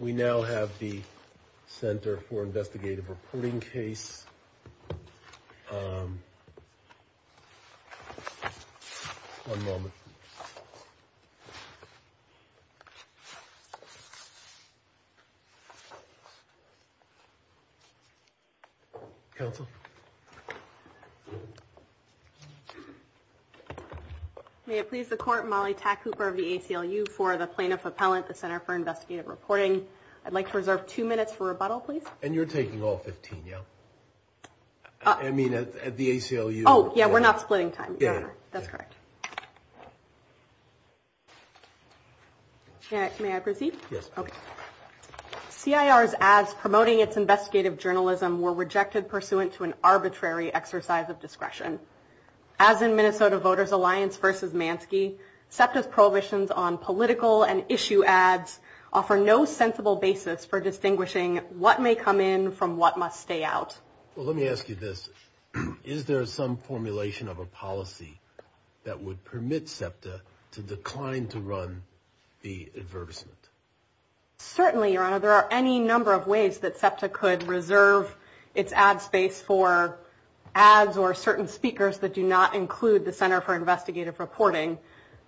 We now have the Center for Investigative Reporting case, um, one moment. Counsel. I'd like to reserve two minutes for rebuttal, please. And you're taking all 15, yeah? I mean, at the ACLU. Oh, yeah, we're not splitting time. That's correct. May I proceed? Yes, please. CIR's ads promoting its investigative journalism were rejected pursuant to an arbitrary exercise of discretion. As in Minnesota Voters Alliance v. Mansky, SEPTA's prohibitions on political and issue ads offer no sensible basis for distinguishing what may come in from what must stay out. Well, let me ask you this. Is there some formulation of a policy that would permit SEPTA to decline to run the advertisement? Certainly, Your Honor. There are any number of ways that SEPTA could reserve its ad space for ads or certain speakers that do not include the Center for Investigative Reporting.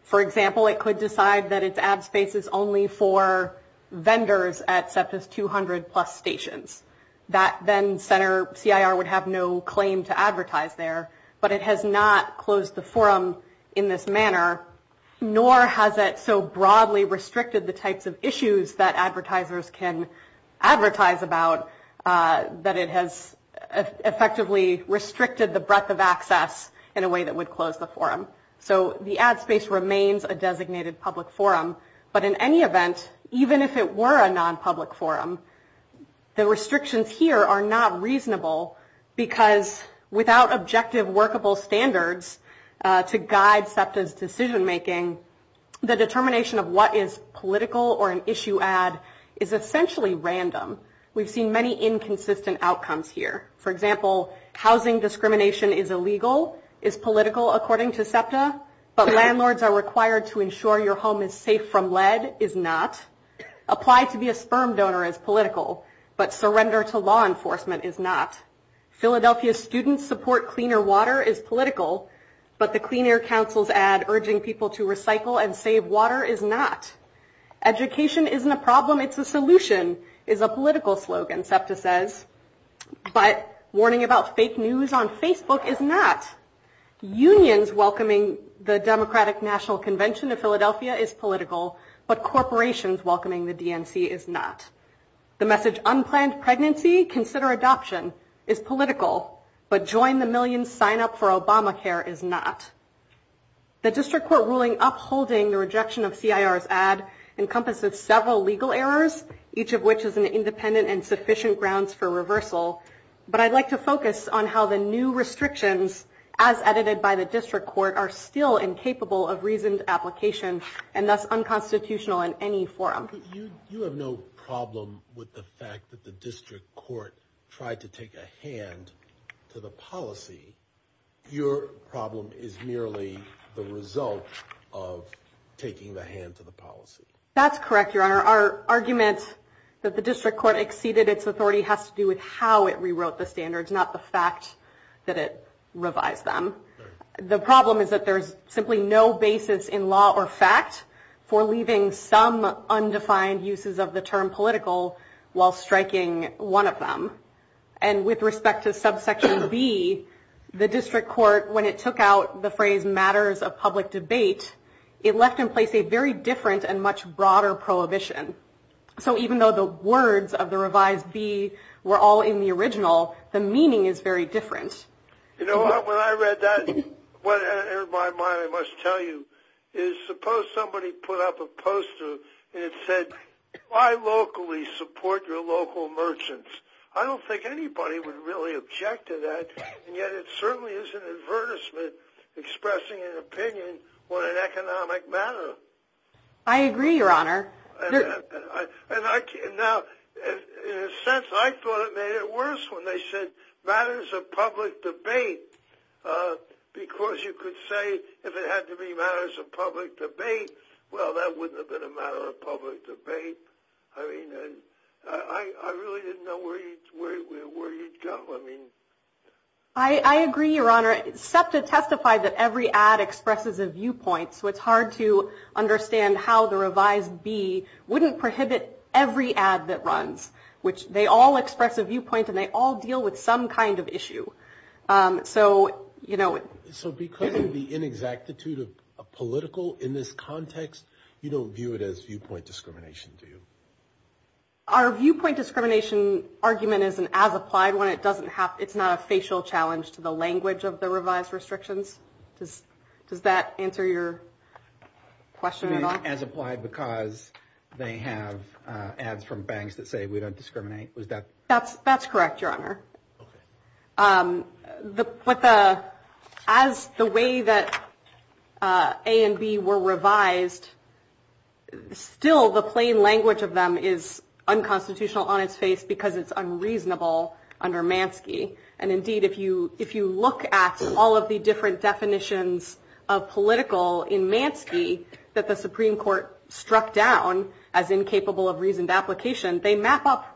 For example, it could decide that its ad space is only for vendors at SEPTA's 200-plus stations. That then CIR would have no claim to advertise there, but it has not closed the forum in this manner, nor has it so broadly restricted the types of issues that advertisers can advertise about that it has effectively restricted the breadth of access in a way that would close the forum. So the ad space remains a designated public forum, but in any event, even if it were a non-public forum, the restrictions here are not reasonable because without objective workable standards to guide SEPTA's decision-making, the determination of what is political or an issue ad is essentially random. We've seen many inconsistent outcomes here. For example, housing discrimination is illegal, is political, according to SEPTA, but landlords are required to ensure your home is safe from lead, is not. Apply to be a sperm donor is political, but surrender to law enforcement is not. Philadelphia students support cleaner water is political, but the Clean Air Council's ad urging people to recycle and save water is not. Education isn't a problem, it's a solution, is a political slogan, SEPTA says, but warning about fake news on Facebook is not. Unions welcoming the Democratic National Convention of Philadelphia is political, but corporations welcoming the DNC is not. The message unplanned pregnancy, consider adoption, is political, but join the millions, sign up for Obamacare is not. The district court ruling upholding the rejection of CIR's ad encompasses several legal errors, each of which is an independent and sufficient grounds for reversal, but I'd like to focus on how the new restrictions, as edited by the district court, are still incapable of reasoned application and thus unconstitutional in any forum. You have no problem with the fact that the district court tried to take a hand to the policy. Your problem is merely the result of taking the hand to the policy. That's correct, Your Honor. Our argument that the district court exceeded its authority has to do with how it rewrote the standards, not the fact that it revised them. The problem is that there's simply no basis in law or fact for leaving some undefined uses of the term political while striking one of them. And with respect to subsection B, the district court, when it took out the phrase matters of public debate, it left in place a very different and much broader prohibition. So even though the words of the revised B were all in the original, the meaning is very different. You know, when I read that, what entered my mind, I must tell you, is suppose somebody put up a poster and it said, why locally support your local merchants? I don't think anybody would really object to that, and yet it certainly is an advertisement expressing an opinion on an economic matter. I agree, Your Honor. Now, in a sense, I thought it made it worse when they said matters of public debate because you could say if it had to be matters of public debate, well, that wouldn't have been a matter of public debate. I mean, I really didn't know where you'd go. I mean. I agree, Your Honor. SEPTA testified that every ad expresses a viewpoint, so it's hard to understand how the revised B wouldn't prohibit every ad that runs, which they all express a viewpoint and they all deal with some kind of issue. So, you know. So because of the inexactitude of a political in this context, you don't view it as viewpoint discrimination, do you? Our viewpoint discrimination argument isn't as applied when it doesn't have, it's not a facial challenge to the language of the revised restrictions. Does that answer your question at all? As applied because they have ads from banks that say we don't discriminate. That's correct, Your Honor. As the way that A and B were revised, still the plain language of them is unconstitutional on its face because it's unreasonable under Manski. And indeed, if you look at all of the different definitions of political in Manski that the Supreme Court struck down as incapable of reasoned application, they map up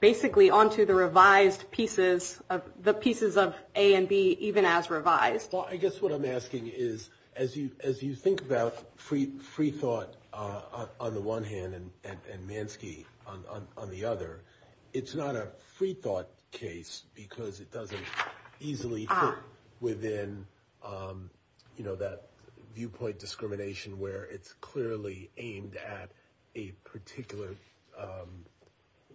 basically onto the revised pieces of the pieces of A and B even as revised. Well, I guess what I'm asking is, as you think about free thought on the one hand and Manski on the other, it's not a free thought case because it doesn't easily fit within, you know, the viewpoint discrimination where it's clearly aimed at a particular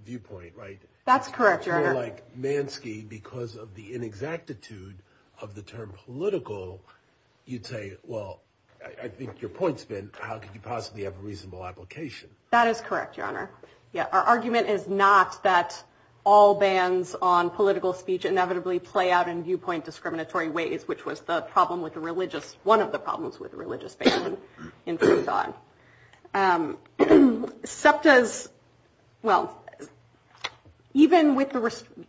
viewpoint, right? That's correct, Your Honor. Like Manski, because of the inexactitude of the term political, you'd say, well, I think your point's been, how could you possibly have a reasonable application? That is correct, Your Honor. Our argument is not that all bans on political speech inevitably play out in viewpoint discriminatory ways, which was the problem with the religious, one of the problems with the religious ban in free thought. SEPTA's, well, even with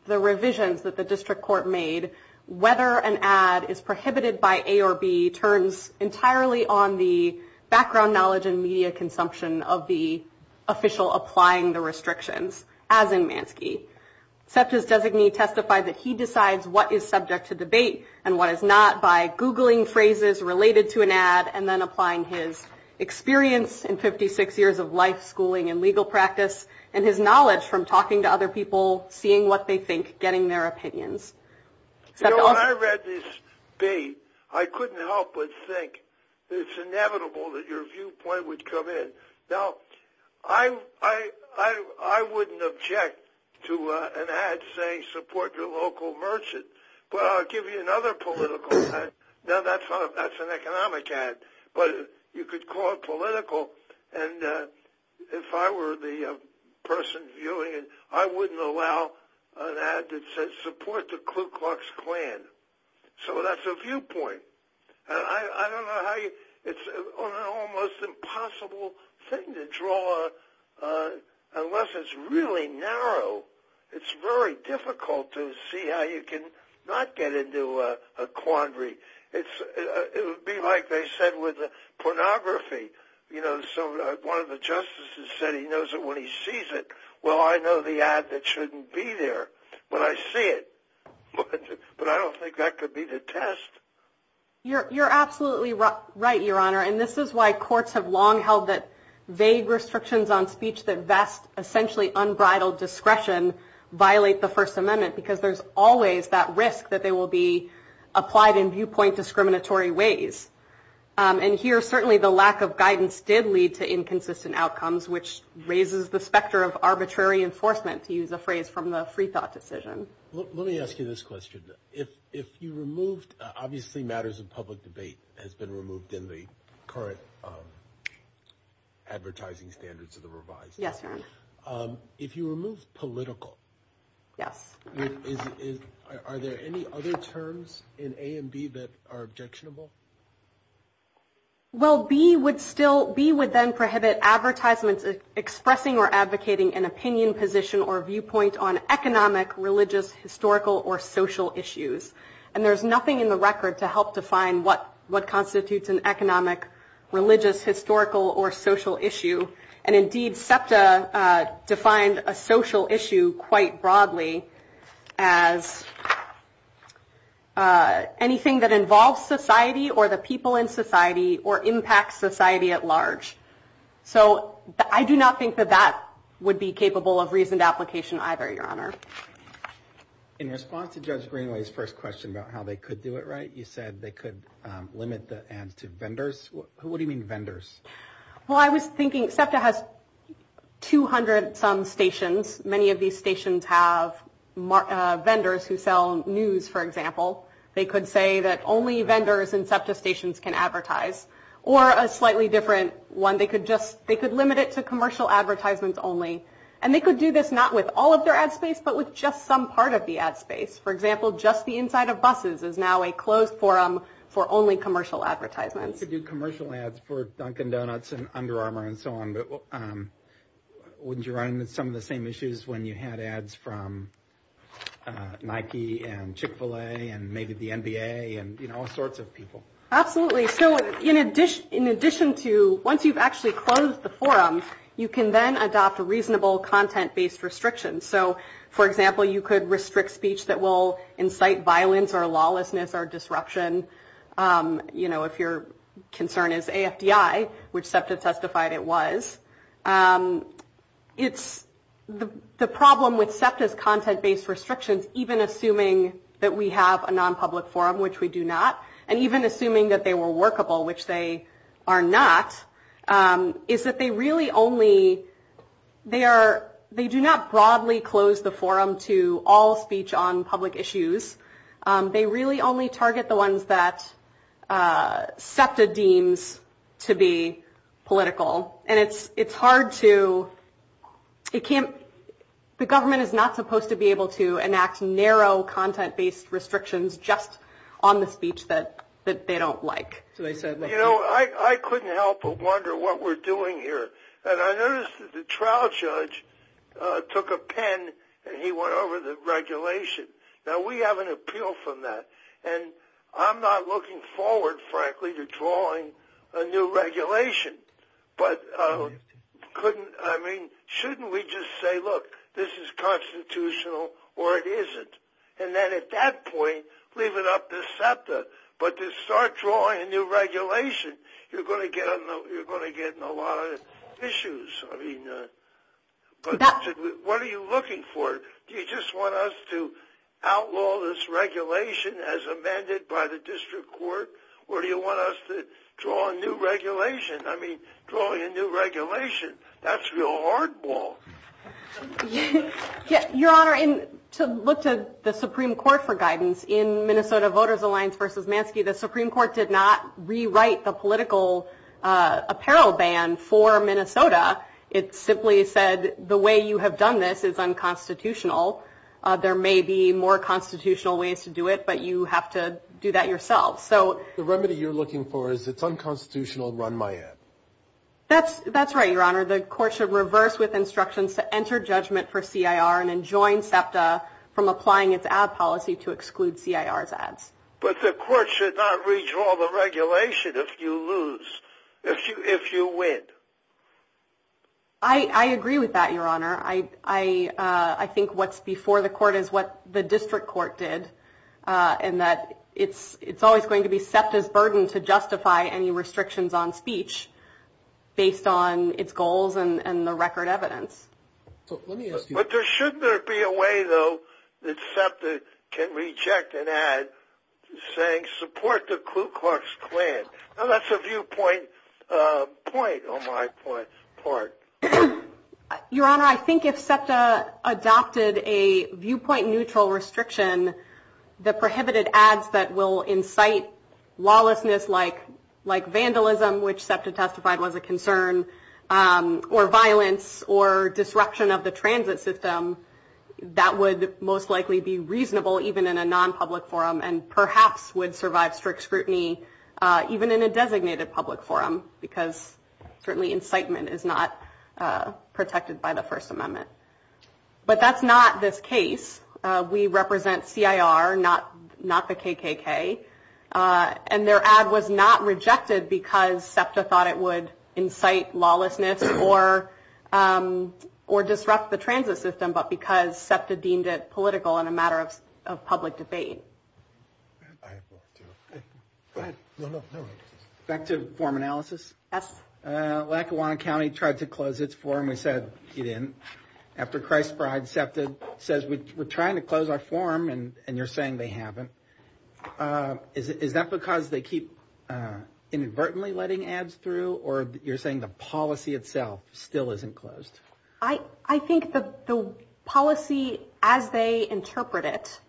the revisions that the district court made, whether an ad is prohibited by A or B turns entirely on the background knowledge and media consumption of the official applying the restrictions, as in Manski. SEPTA's designee testified that he decides what is subject to debate and what is not by Googling phrases related to an ad and then applying his experience in 56 years of life, schooling, and legal practice, and his knowledge from talking to other people, seeing what they think, getting their opinions. You know, when I read this bait, I couldn't help but think it's inevitable that your viewpoint would come in. Now, I wouldn't object to an ad saying support your local merchant, but I'll give you another political ad. Now, that's an economic ad, but you could call it political. And if I were the person viewing it, I wouldn't allow an ad that says support the Ku Klux Klan. So that's a viewpoint. It's an almost impossible thing to draw unless it's really narrow. It's very difficult to see how you can not get into a quandary. It would be like they said with pornography. You know, one of the justices said he knows it when he sees it. Well, I know the ad that shouldn't be there when I see it, but I don't think that could be the test. You're absolutely right, Your Honor. And this is why courts have long held that vague restrictions on speech that vest essentially unbridled discretion violate the First Amendment, because there's always that risk that they will be applied in viewpoint discriminatory ways. And here, certainly, the lack of guidance did lead to inconsistent outcomes, which raises the specter of arbitrary enforcement, to use a phrase from the Freethought decision. Let me ask you this question. Obviously, matters of public debate has been removed in the current advertising standards of the revised law. Yes, Your Honor. If you remove political, are there any other terms in A and B that are objectionable? Well, B would then prohibit advertisements expressing or advocating an opinion, position, or viewpoint on economic, religious, historical, or social issues. And there's nothing in the record to help define what constitutes an economic, religious, historical, or social issue. And indeed, SEPTA defined a social issue quite broadly as anything that involves society or the people in society or impacts society at large. So I do not think that that would be capable of reasoned application either, Your Honor. In response to Judge Greenway's first question about how they could do it right, you said they could limit the ads to vendors. What do you mean vendors? Well, I was thinking SEPTA has 200-some stations. Many of these stations have vendors who sell news, for example. They could say that only vendors in SEPTA stations can advertise. Or a slightly different one. They could limit it to commercial advertisements only. And they could do this not with all of their ad space, but with just some part of the ad space. For example, Just the Inside of Buses is now a closed forum for only commercial advertisements. You could do commercial ads for Dunkin' Donuts and Under Armour and so on. Wouldn't you run into some of the same issues when you had ads from Nike and Chick-fil-A and maybe the NBA and all sorts of people? Absolutely. So in addition to once you've actually closed the forum, you can then adopt a reasonable content-based restriction. So, for example, you could restrict speech that will incite violence or lawlessness or disruption. If your concern is AFDI, which SEPTA testified it was, the problem with SEPTA's content-based restrictions, even assuming that we have a non-public forum, which we do not, and even assuming that they were workable, which they are not, is that they do not broadly close the forum to all speech on public issues. They really only target the ones that SEPTA deems to be political. The government is not supposed to be able to enact narrow content-based restrictions just on the speech that they don't like. You know, I couldn't help but wonder what we're doing here. And I noticed that the trial judge took a pen and he went over the regulation. Now, we have an appeal from that. And I'm not looking forward, frankly, to drawing a new regulation. I mean, shouldn't we just say, look, this is constitutional or it isn't? And then at that point, leave it up to SEPTA. But to start drawing a new regulation, you're going to get in a lot of issues. What are you looking for? Do you just want us to outlaw this regulation as amended by the district court? Or do you want us to draw a new regulation? I mean, drawing a new regulation, that's real hardball. Your Honor, to look to the Supreme Court for guidance, in Minnesota Voters Alliance v. Mansky, the Supreme Court did not rewrite the political apparel ban for Minnesota. It simply said the way you have done this is unconstitutional. There may be more constitutional ways to do it, but you have to do that yourself. The remedy you're looking for is it's unconstitutional, run my ad. That's right, Your Honor. The court should reverse with instructions to enter judgment for CIR and enjoin SEPTA from applying its ad policy to exclude CIR's ads. But the court should not redraw the regulation if you lose, if you win. I agree with that, Your Honor. I think what's before the court is what the district court did, and that it's always going to be SEPTA's burden to justify any restrictions on speech based on its goals and the record evidence. But shouldn't there be a way, though, that SEPTA can reject an ad saying support the Ku Klux Klan? That's a viewpoint point on my part. Your Honor, I think if SEPTA adopted a viewpoint neutral restriction that prohibited ads that will incite lawlessness like vandalism, which SEPTA testified was a concern, or violence or disruption of the transit system, that would most likely be reasonable even in a non-public forum and perhaps would survive strict scrutiny even in a designated public forum because certainly incitement is not protected by the First Amendment. But that's not this case. We represent CIR, not the KKK. And their ad was not rejected because SEPTA thought it would incite lawlessness or disrupt the transit system, but because SEPTA deemed it political in a matter of public debate. Back to form analysis. Lackawanna County tried to close its forum. We said it didn't. After Christ's Bride, SEPTA says we're trying to close our forum, and you're saying they haven't. Is that because they keep inadvertently letting ads through, or you're saying the policy itself still isn't closed? I think the policy as they interpret it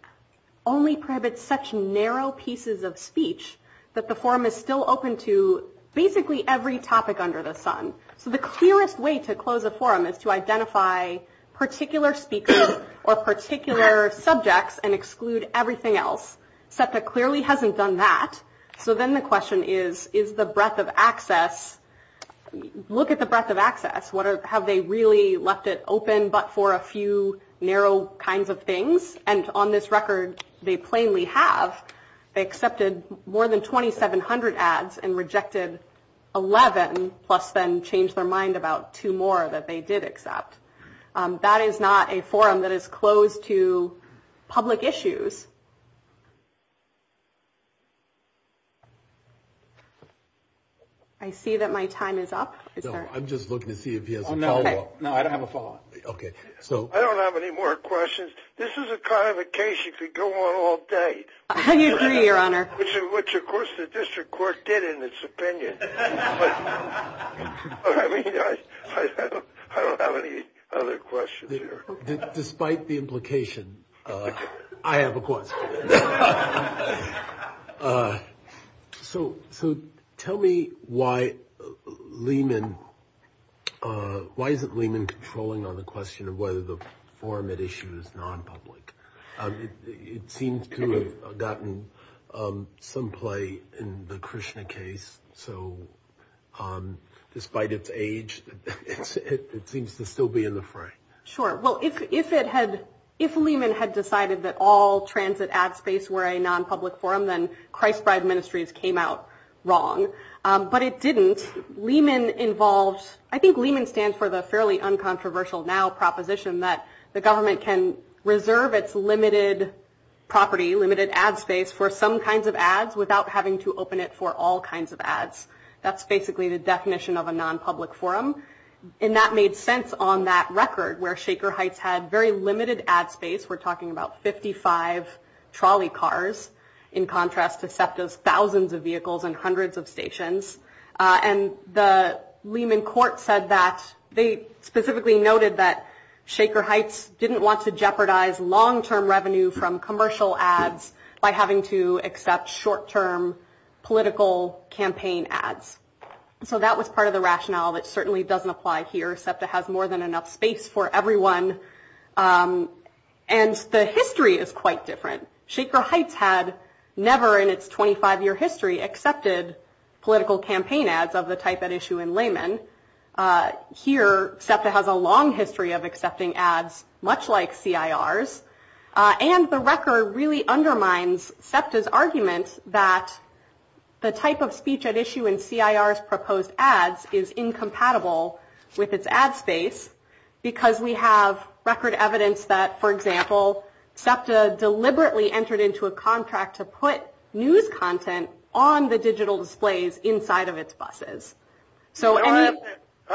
only prohibits such narrow pieces of speech that the forum is still open to basically every topic under the sun. So the clearest way to close a forum is to identify particular speakers or particular subjects and exclude everything else. SEPTA clearly hasn't done that. So then the question is, is the breadth of access? Look at the breadth of access. Have they really left it open but for a few narrow kinds of things? And on this record, they plainly have. They accepted more than 2,700 ads and rejected 11, plus then changed their mind about two more that they did accept. That is not a forum that is closed to public issues. I see that my time is up. I'm just looking to see if he has a follow-up. No, I don't have a follow-up. Okay. I don't have any more questions. This is a kind of a case you could go on all day. I agree, Your Honor. Which, of course, the district court did in its opinion. But I mean, I don't have any other questions here. Despite the implication, I have a question. So tell me why Lehman, why isn't Lehman controlling on the question of whether the forum at issue is non-public? It seems to have gotten some play in the Krishna case. So despite its age, it seems to still be in the frame. Sure. Well, if Lehman had decided that all transit ad space were a non-public forum, then Christbride Ministries came out wrong. But it didn't. I think Lehman stands for the fairly uncontroversial now proposition that the government can reserve its limited property, limited ad space, for some kinds of ads without having to open it for all kinds of ads. That's basically the definition of a non-public forum. And that made sense on that record where Shaker Heights had very limited ad space. We're talking about 55 trolley cars in contrast to SEPTA's thousands of vehicles and hundreds of stations. And the Lehman court said that they specifically noted that Shaker Heights didn't want to jeopardize long-term revenue from commercial ads by having to accept short-term political campaign ads. So that was part of the rationale that certainly doesn't apply here. SEPTA has more than enough space for everyone. And the history is quite different. Shaker Heights had never in its 25-year history accepted political campaign ads of the type at issue in Lehman. Here, SEPTA has a long history of accepting ads much like CIRs. And the record really undermines SEPTA's argument that the type of speech at issue in CIR's proposed ads is incompatible with its ad space because we have record evidence that, for example, SEPTA deliberately entered into a contract to put news content on the digital displays inside of its buses. I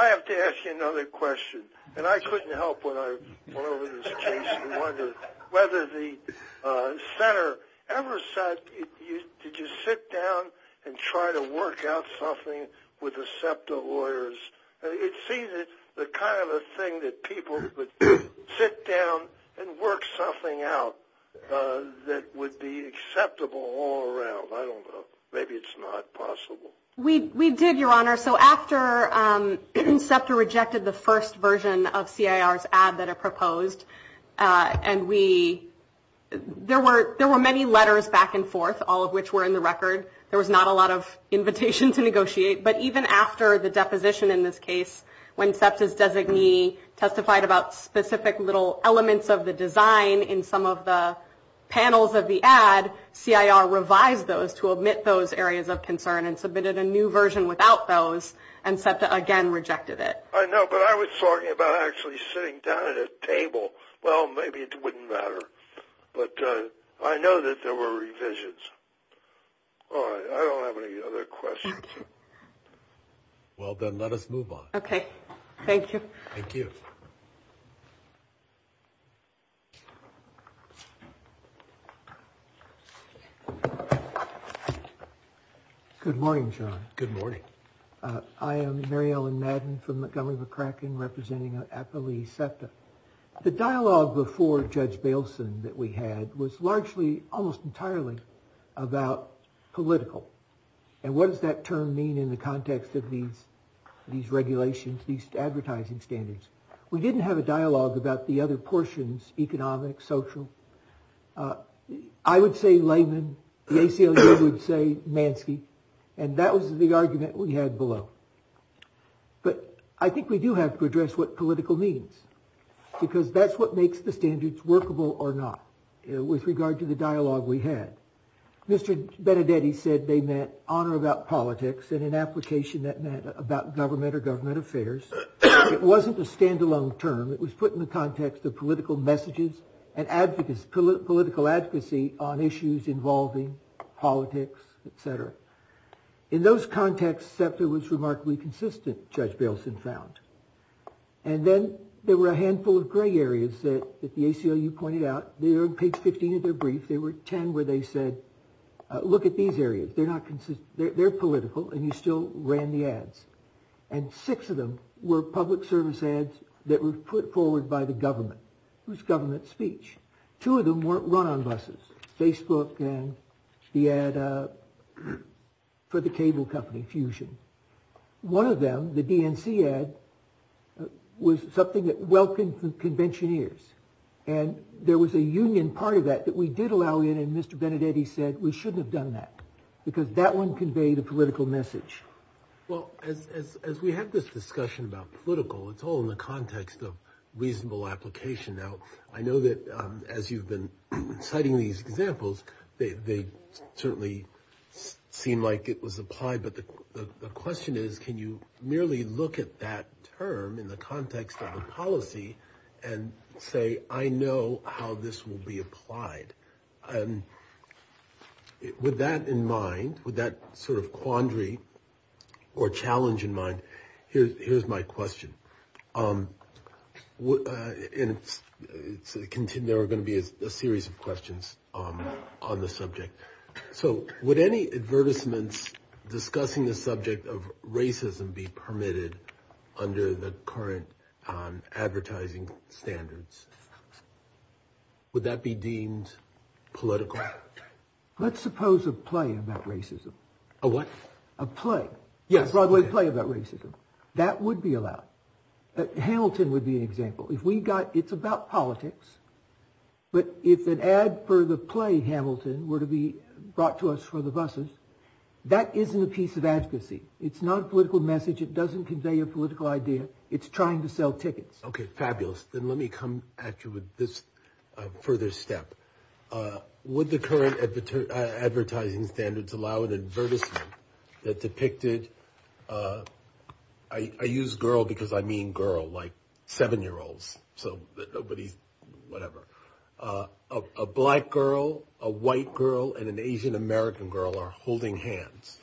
have to ask you another question. And I couldn't help when I went over this case and wondered whether the center ever said, did you sit down and try to work out something with the SEPTA lawyers? It seems that kind of a thing that people would sit down and work something out that would be acceptable all around. I don't know. Maybe it's not possible. We did, Your Honor. So after SEPTA rejected the first version of CIR's ad that it proposed, and we – there were many letters back and forth, all of which were in the record. There was not a lot of invitation to negotiate. But even after the deposition in this case, when SEPTA's designee testified about specific little elements of the design in some of the panels of the ad, CIR revised those to omit those areas of concern and submitted a new version without those, and SEPTA again rejected it. I know. But I was talking about actually sitting down at a table. Well, maybe it wouldn't matter. But I know that there were revisions. All right. I don't have any other questions. Well, then let us move on. Okay. Thank you. Thank you. Good morning, John. Good morning. I am Mary Ellen Madden from Montgomery McCracken, representing APALEE SEPTA. The dialogue before Judge Bailson that we had was largely, almost entirely, about political. And what does that term mean in the context of these regulations, these advertising standards? We didn't have a dialogue about the other portions, economic, social. I would say layman. The ACLU would say mansky. And that was the argument we had below. But I think we do have to address what political means, because that's what makes the standards workable or not with regard to the dialogue we had. Mr. Benedetti said they meant honor about politics and an application that meant about government or government affairs. It wasn't a standalone term. It was put in the context of political messages and political advocacy on issues involving politics, et cetera. In those contexts, SEPTA was remarkably consistent, Judge Bailson found. And then there were a handful of gray areas that the ACLU pointed out. They are on page 15 of their brief. There were 10 where they said, look at these areas. They're political, and you still ran the ads. And six of them were public service ads that were put forward by the government. It was government speech. Two of them weren't run on buses, Facebook and the ad for the cable company, Fusion. One of them, the DNC ad, was something that welcomed conventioneers. And there was a union part of that that we did allow in, and Mr. Benedetti said we shouldn't have done that because that one conveyed a political message. Well, as we have this discussion about political, it's all in the context of reasonable application. Now, I know that as you've been citing these examples, they certainly seem like it was applied. But the question is, can you merely look at that term in the context of a policy and say, I know how this will be applied? With that in mind, with that sort of quandary or challenge in mind, here's my question. There are going to be a series of questions on the subject. So would any advertisements discussing the subject of racism be permitted under the current advertising standards? Would that be deemed political? Let's suppose a play about racism. A what? A play. Yes. Broadway play about racism. That would be allowed. Hamilton would be an example. If we got it's about politics. But if an ad for the play Hamilton were to be brought to us for the buses, that isn't a piece of advocacy. It's not a political message. It doesn't convey a political idea. It's trying to sell tickets. OK, fabulous. Then let me come at you with this further step. Would the current advertising standards allow an advertisement that depicted I use girl because I mean girl like seven year olds. So nobody's whatever. A black girl, a white girl and an Asian-American girl are holding hands.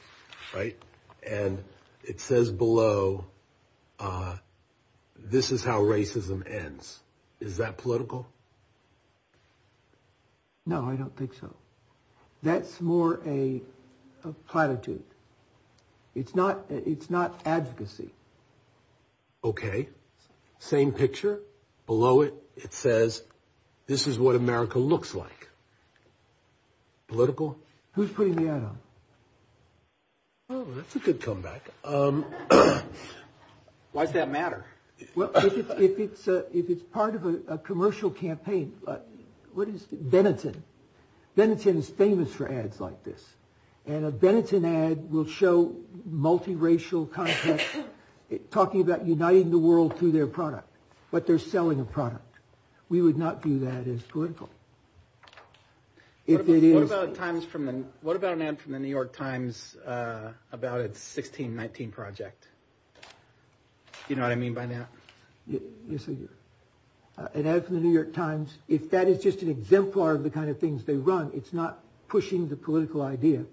Right. And it says below, this is how racism ends. Is that political? No, I don't think so. That's more a platitude. It's not it's not advocacy. OK, same picture below it. It says this is what America looks like. Political. Who's putting the ad on? Oh, that's a good comeback. Why does that matter? Well, if it's if it's part of a commercial campaign. What is Benetton? Benetton is famous for ads like this. And a Benetton ad will show multiracial content talking about uniting the world through their product. But they're selling a product. We would not do that as political. If it is about times from then. What about an ad from The New York Times about its 1619 project? You know what I mean by that? Yes. And as The New York Times, if that is just an exemplar of the kind of things they run, it's not pushing the political idea.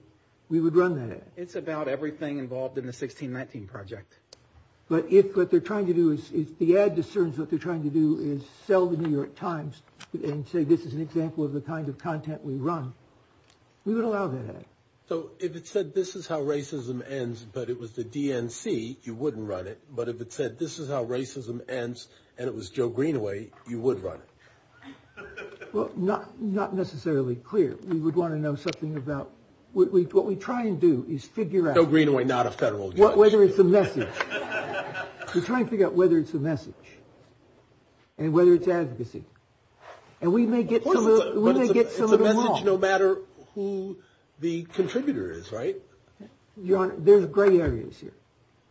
We would run that. It's about everything involved in the 1619 project. But if what they're trying to do is the ad discerns what they're trying to do is sell The New York Times and say this is an example of the kind of content we run. We would allow that. So if it said this is how racism ends, but it was the DNC, you wouldn't run it. But if it said this is how racism ends and it was Joe Greenaway, you would run it. Well, not not necessarily clear. We would want to know something about what we what we try and do is figure out. Greenway, not a federal judge. Whether it's a message. We're trying to figure out whether it's a message. And whether it's advocacy. And we may get we may get a message no matter who the contributor is. Right. There's gray areas here.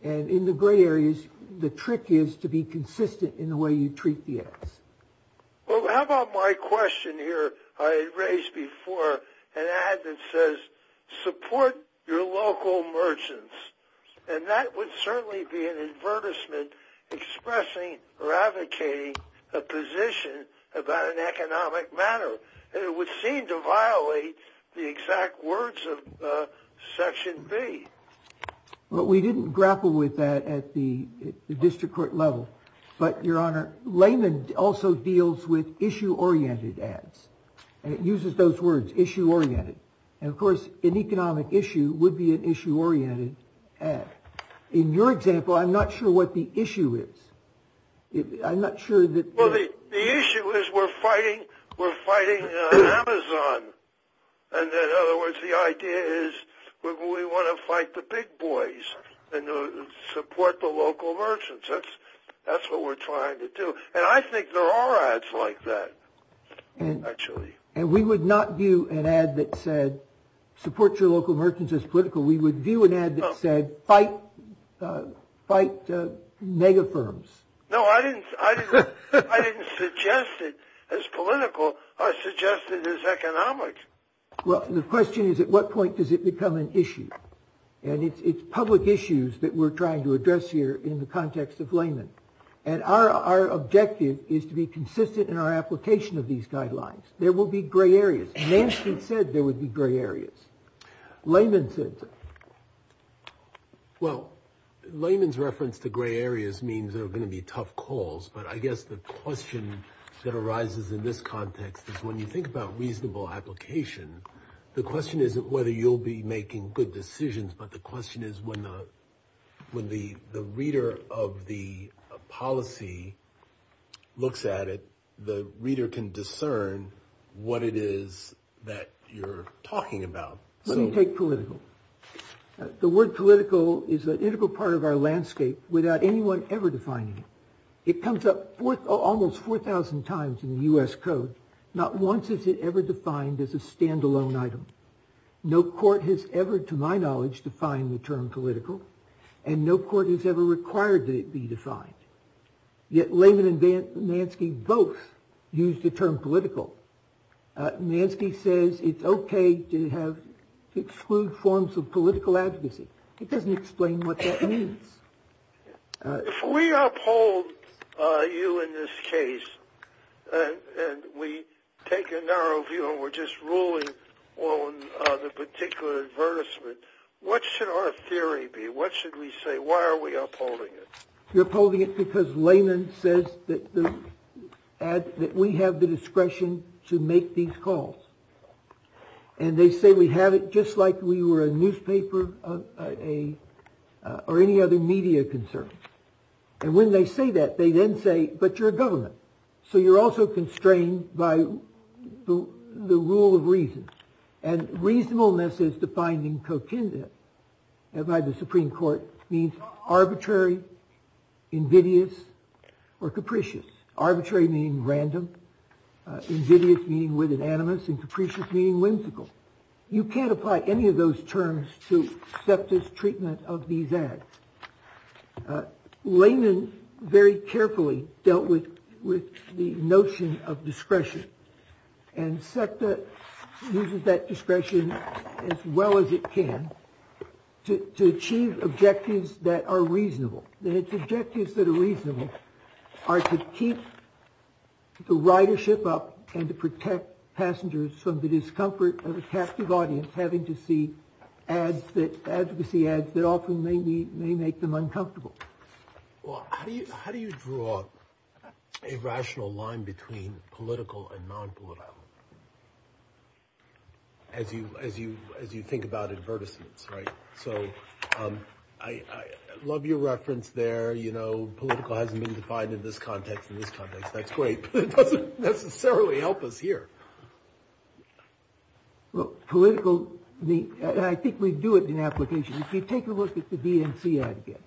And in the gray areas, the trick is to be consistent in the way you treat the ads. Well, how about my question here? I raised before an ad that says support your local merchants. And that would certainly be an advertisement expressing or advocating a position about an economic matter. It would seem to violate the exact words of Section B. But we didn't grapple with that at the district court level. But, Your Honor, Lehman also deals with issue oriented ads and uses those words issue oriented. And, of course, an economic issue would be an issue oriented ad. In your example, I'm not sure what the issue is. I'm not sure that the issue is we're fighting. We're fighting Amazon. And in other words, the idea is we want to fight the big boys and support the local merchants. That's what we're trying to do. And I think there are ads like that. And we would not view an ad that said support your local merchants as political. We would view an ad that said fight mega firms. No, I didn't. I didn't suggest it as political. I suggested it as economic. Well, the question is, at what point does it become an issue? And it's public issues that we're trying to address here in the context of Lehman. And our objective is to be consistent in our application of these guidelines. There will be gray areas. Nancy said there would be gray areas. Lehman said. Well, Lehman's reference to gray areas means they're going to be tough calls. But I guess the question that arises in this context is when you think about reasonable application, the question isn't whether you'll be making good decisions. But the question is when the when the the reader of the policy looks at it, the reader can discern what it is that you're talking about. Let me take political. The word political is an integral part of our landscape without anyone ever defining it. It comes up almost 4000 times in the U.S. code. Not once is it ever defined as a standalone item. No court has ever, to my knowledge, defined the term political and no court is ever required to be defined. Yet Lehman and Nansky both use the term political. Nansky says it's OK to have exclude forms of political advocacy. It doesn't explain what that means. If we uphold you in this case and we take a narrow view, we're just ruling on the particular advertisement. What should our theory be? What should we say? Why are we upholding it? You're holding it because Lehman says that the ad that we have the discretion to make these calls. And they say we have it just like we were a newspaper of a or any other media concern. And when they say that, they then say, but you're a government. So you're also constrained by the rule of reason. And reasonableness is defined in co-kindred by the Supreme Court means arbitrary, invidious or capricious. Arbitrary meaning random, invidious meaning with an animus, and capricious meaning whimsical. You can't apply any of those terms to SEPTA's treatment of these ads. Lehman very carefully dealt with the notion of discretion. And SEPTA uses that discretion as well as it can to achieve objectives that are reasonable. The objectives that are reasonable are to keep the ridership up and to protect passengers from the discomfort of a captive audience, having to see ads that advocacy ads that often may be may make them uncomfortable. Well, how do you how do you draw a rational line between political and non-political? As you as you as you think about advertisements. Right. So I love your reference there. You know, political hasn't been defined in this context in this context. That's great. But it doesn't necessarily help us here. Well, political. I think we do it in application. If you take a look at the DNC ad again,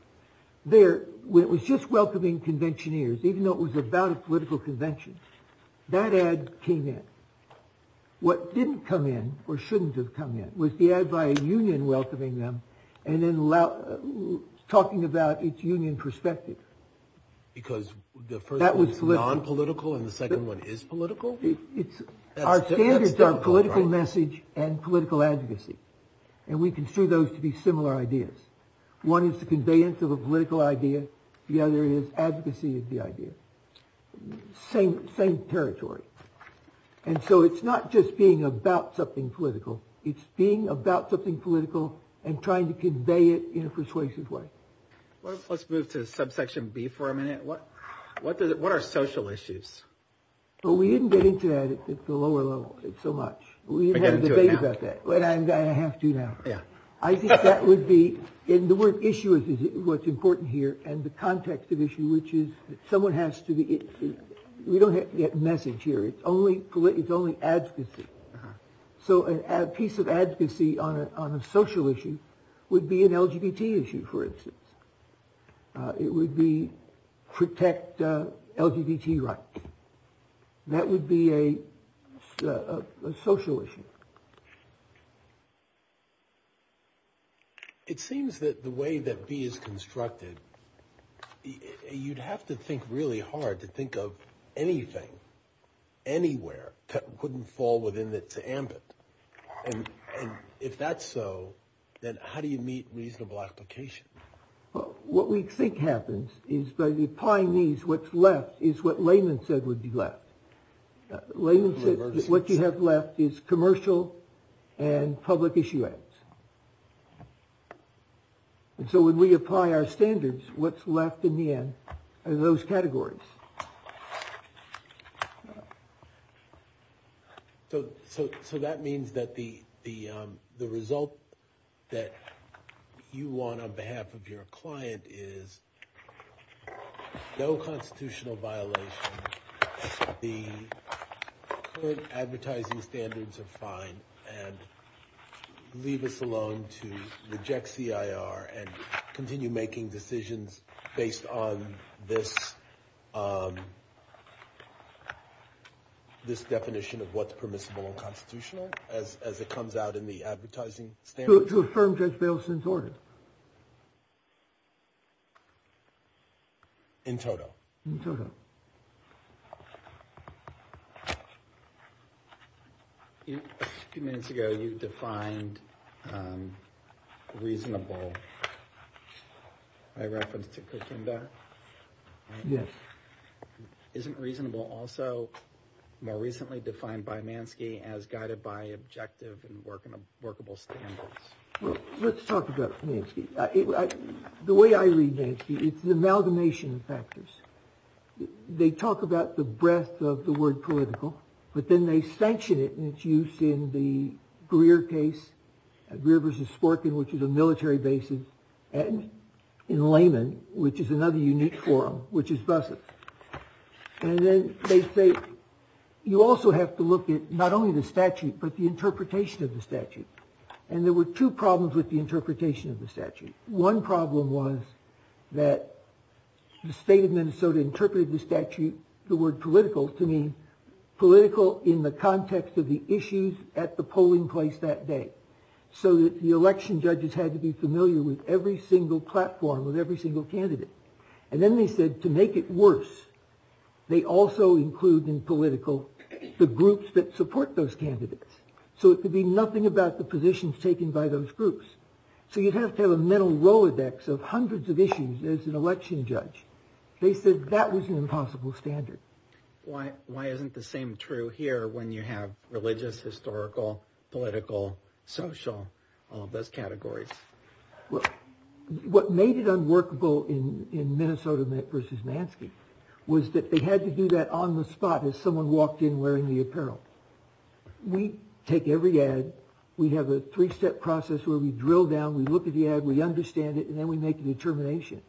there was just welcoming conventioneers, even though it was about a political convention, that ad came in. What didn't come in or shouldn't have come in was the ad by a union welcoming them and then talking about its union perspective. Because that was non-political. And the second one is political. It's our standards of political message and political advocacy. And we can see those to be similar ideas. One is the conveyance of a political idea. The other is advocacy of the idea. Same same territory. And so it's not just being about something political. It's being about something political and trying to convey it in a persuasive way. Well, let's move to subsection B for a minute. What what does it what are social issues? Well, we didn't get into that at the lower level so much. We had a debate about that. What I have to do now. I think that would be in the word issue is what's important here. And the context of issue, which is someone has to be. We don't get message here. It's only political. It's only advocacy. So a piece of advocacy on a social issue would be an LGBT issue, for instance. It would be protect LGBT rights. That would be a social issue. It seems that the way that B is constructed, you'd have to think really hard to think of anything. Anywhere that wouldn't fall within its ambit. And if that's so, then how do you meet reasonable application? What we think happens is by the pioneers. What's left is what layman said would be left. What you have left is commercial and public issue. So when we apply our standards, what's left in the end of those categories. So so so that means that the the the result that you want on behalf of your client is no constitutional violation. The advertising standards are fine and leave us alone to reject C.I.R. and continue making decisions based on this. This definition of what's permissible and constitutional as it comes out in the advertising. So to affirm Judge Bailson's order. In total. A few minutes ago, you defined reasonable. I reference to that. Yes. Isn't reasonable. Also, more recently defined by Mansky as guided by objective and working workable standards. Well, let's talk about the way I read. It's the amalgamation of factors. They talk about the breadth of the word political, but then they sanction it and it's used in the career case. Rivers is working, which is a military basis. And in Lehman, which is another unique forum, which is Busset. And then they say, you also have to look at not only the statute, but the interpretation of the statute. And there were two problems with the interpretation of the statute. One problem was that the state of Minnesota interpreted the statute. The word political to mean political in the context of the issues at the polling place that day. So the election judges had to be familiar with every single platform, with every single candidate. And then they said to make it worse, they also include in political the groups that support those candidates. So it could be nothing about the positions taken by those groups. So you'd have to have a mental Rolodex of hundreds of issues as an election judge. They said that was an impossible standard. Why isn't the same true here when you have religious, historical, political, social, all of those categories? Well, what made it unworkable in Minnesota versus Mansky was that they had to do that on the spot as someone walked in wearing the apparel. We take every ad. We have a three step process where we drill down, we look at the ad, we understand it, and then we make a determination.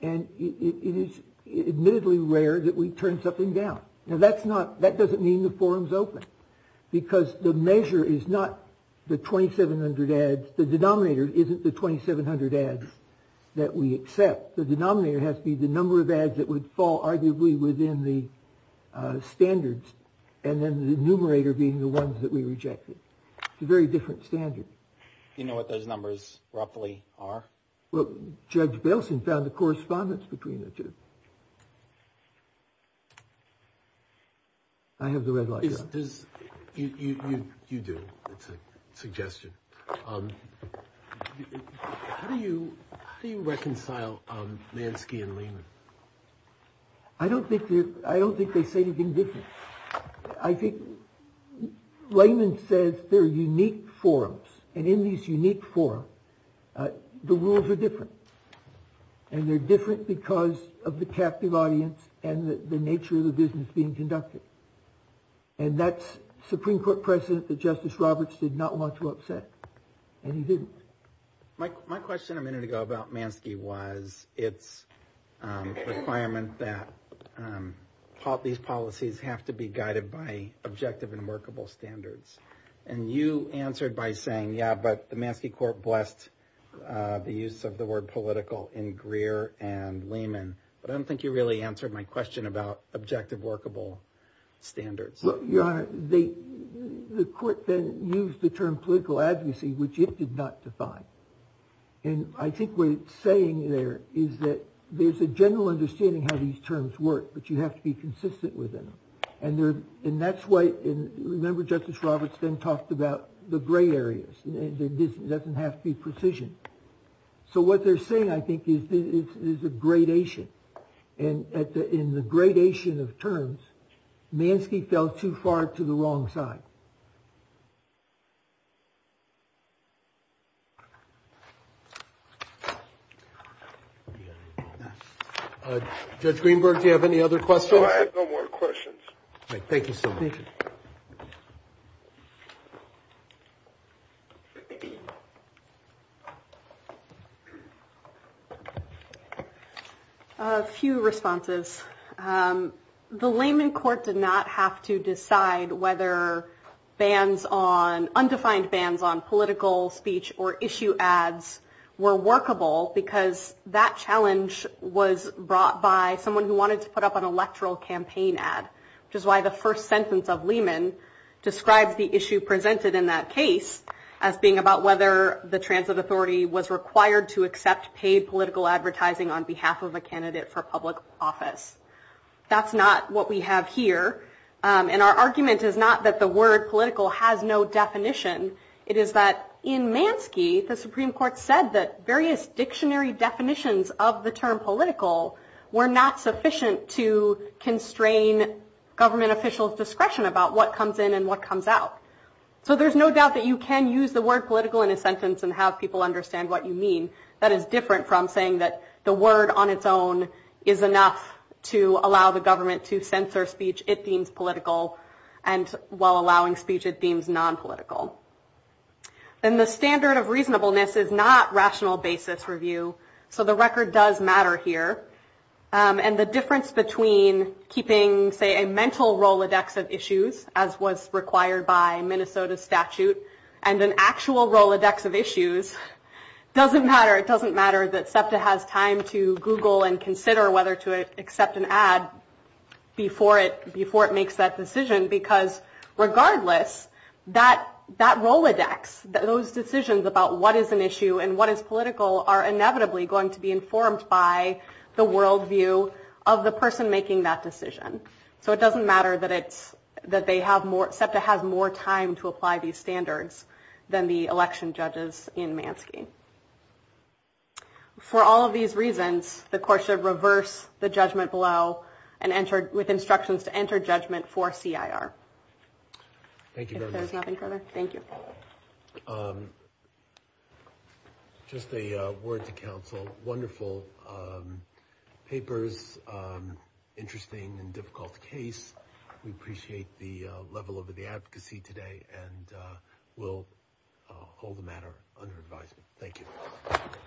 And it is admittedly rare that we turn something down. Now, that doesn't mean the forum's open because the measure is not the 2,700 ads. The denominator isn't the 2,700 ads that we accept. The denominator has to be the number of ads that would fall arguably within the standards. And then the numerator being the ones that we rejected. It's a very different standard. Do you know what those numbers roughly are? Well, Judge Belson found the correspondence between the two. I have the red light. You do. It's a suggestion. How do you reconcile Mansky and Lehman? I don't think they say anything different. I think Lehman says they're unique forums. And in these unique forums, the rules are different. And they're different because of the captive audience and the nature of the business being conducted. And that's Supreme Court precedent that Justice Roberts did not want to upset. And he didn't. My question a minute ago about Mansky was its requirement that these policies have to be guided by objective and workable standards. And you answered by saying, yeah, but the Mansky court blessed the use of the word political in Greer and Lehman. But I don't think you really answered my question about objective, workable standards. Your Honor, the court then used the term political advocacy, which it did not define. And I think what it's saying there is that there's a general understanding how these terms work, but you have to be consistent with them. And that's why, remember, Justice Roberts then talked about the gray areas. It doesn't have to be precision. So what they're saying, I think, is a gradation. And in the gradation of terms, Mansky fell too far to the wrong side. Judge Greenberg, do you have any other questions? I have no more questions. Thank you. Thank you. A few responses. The Lehman court did not have to decide whether undefined bans on political speech or issue ads were workable, because that challenge was brought by someone who wanted to put up an electoral campaign ad, which is why the first sentence of Lehman describes the issue presented in that case as being about whether the transit authority was required to accept paid political advertising on behalf of a candidate for public office. That's not what we have here. And our argument is not that the word political has no definition. It is that in Mansky, the Supreme Court said that various dictionary definitions of the term political were not sufficient to constrain government officials' discretion about what comes in and what comes out. So there's no doubt that you can use the word political in a sentence and have people understand what you mean. That is different from saying that the word on its own is enough to allow the government to censor speech it deems political, and while allowing speech it deems nonpolitical. And the standard of reasonableness is not rational basis review. So the record does matter here. And the difference between keeping, say, a mental Rolodex of issues, as was required by Minnesota statute, and an actual Rolodex of issues doesn't matter. It doesn't matter that SEPTA has time to Google and consider whether to accept an ad before it makes that decision, because regardless, that Rolodex, those decisions about what is an issue and what is political, are inevitably going to be informed by the worldview of the person making that decision. So it doesn't matter that SEPTA has more time to apply these standards than the election judges in Mansky. For all of these reasons, the court should reverse the judgment below with instructions to enter judgment for CIR. Thank you very much. If there's nothing further, thank you. Just a word to counsel, wonderful papers, interesting and difficult case. We appreciate the level of the advocacy today, and we'll hold the matter under advisement. Thank you.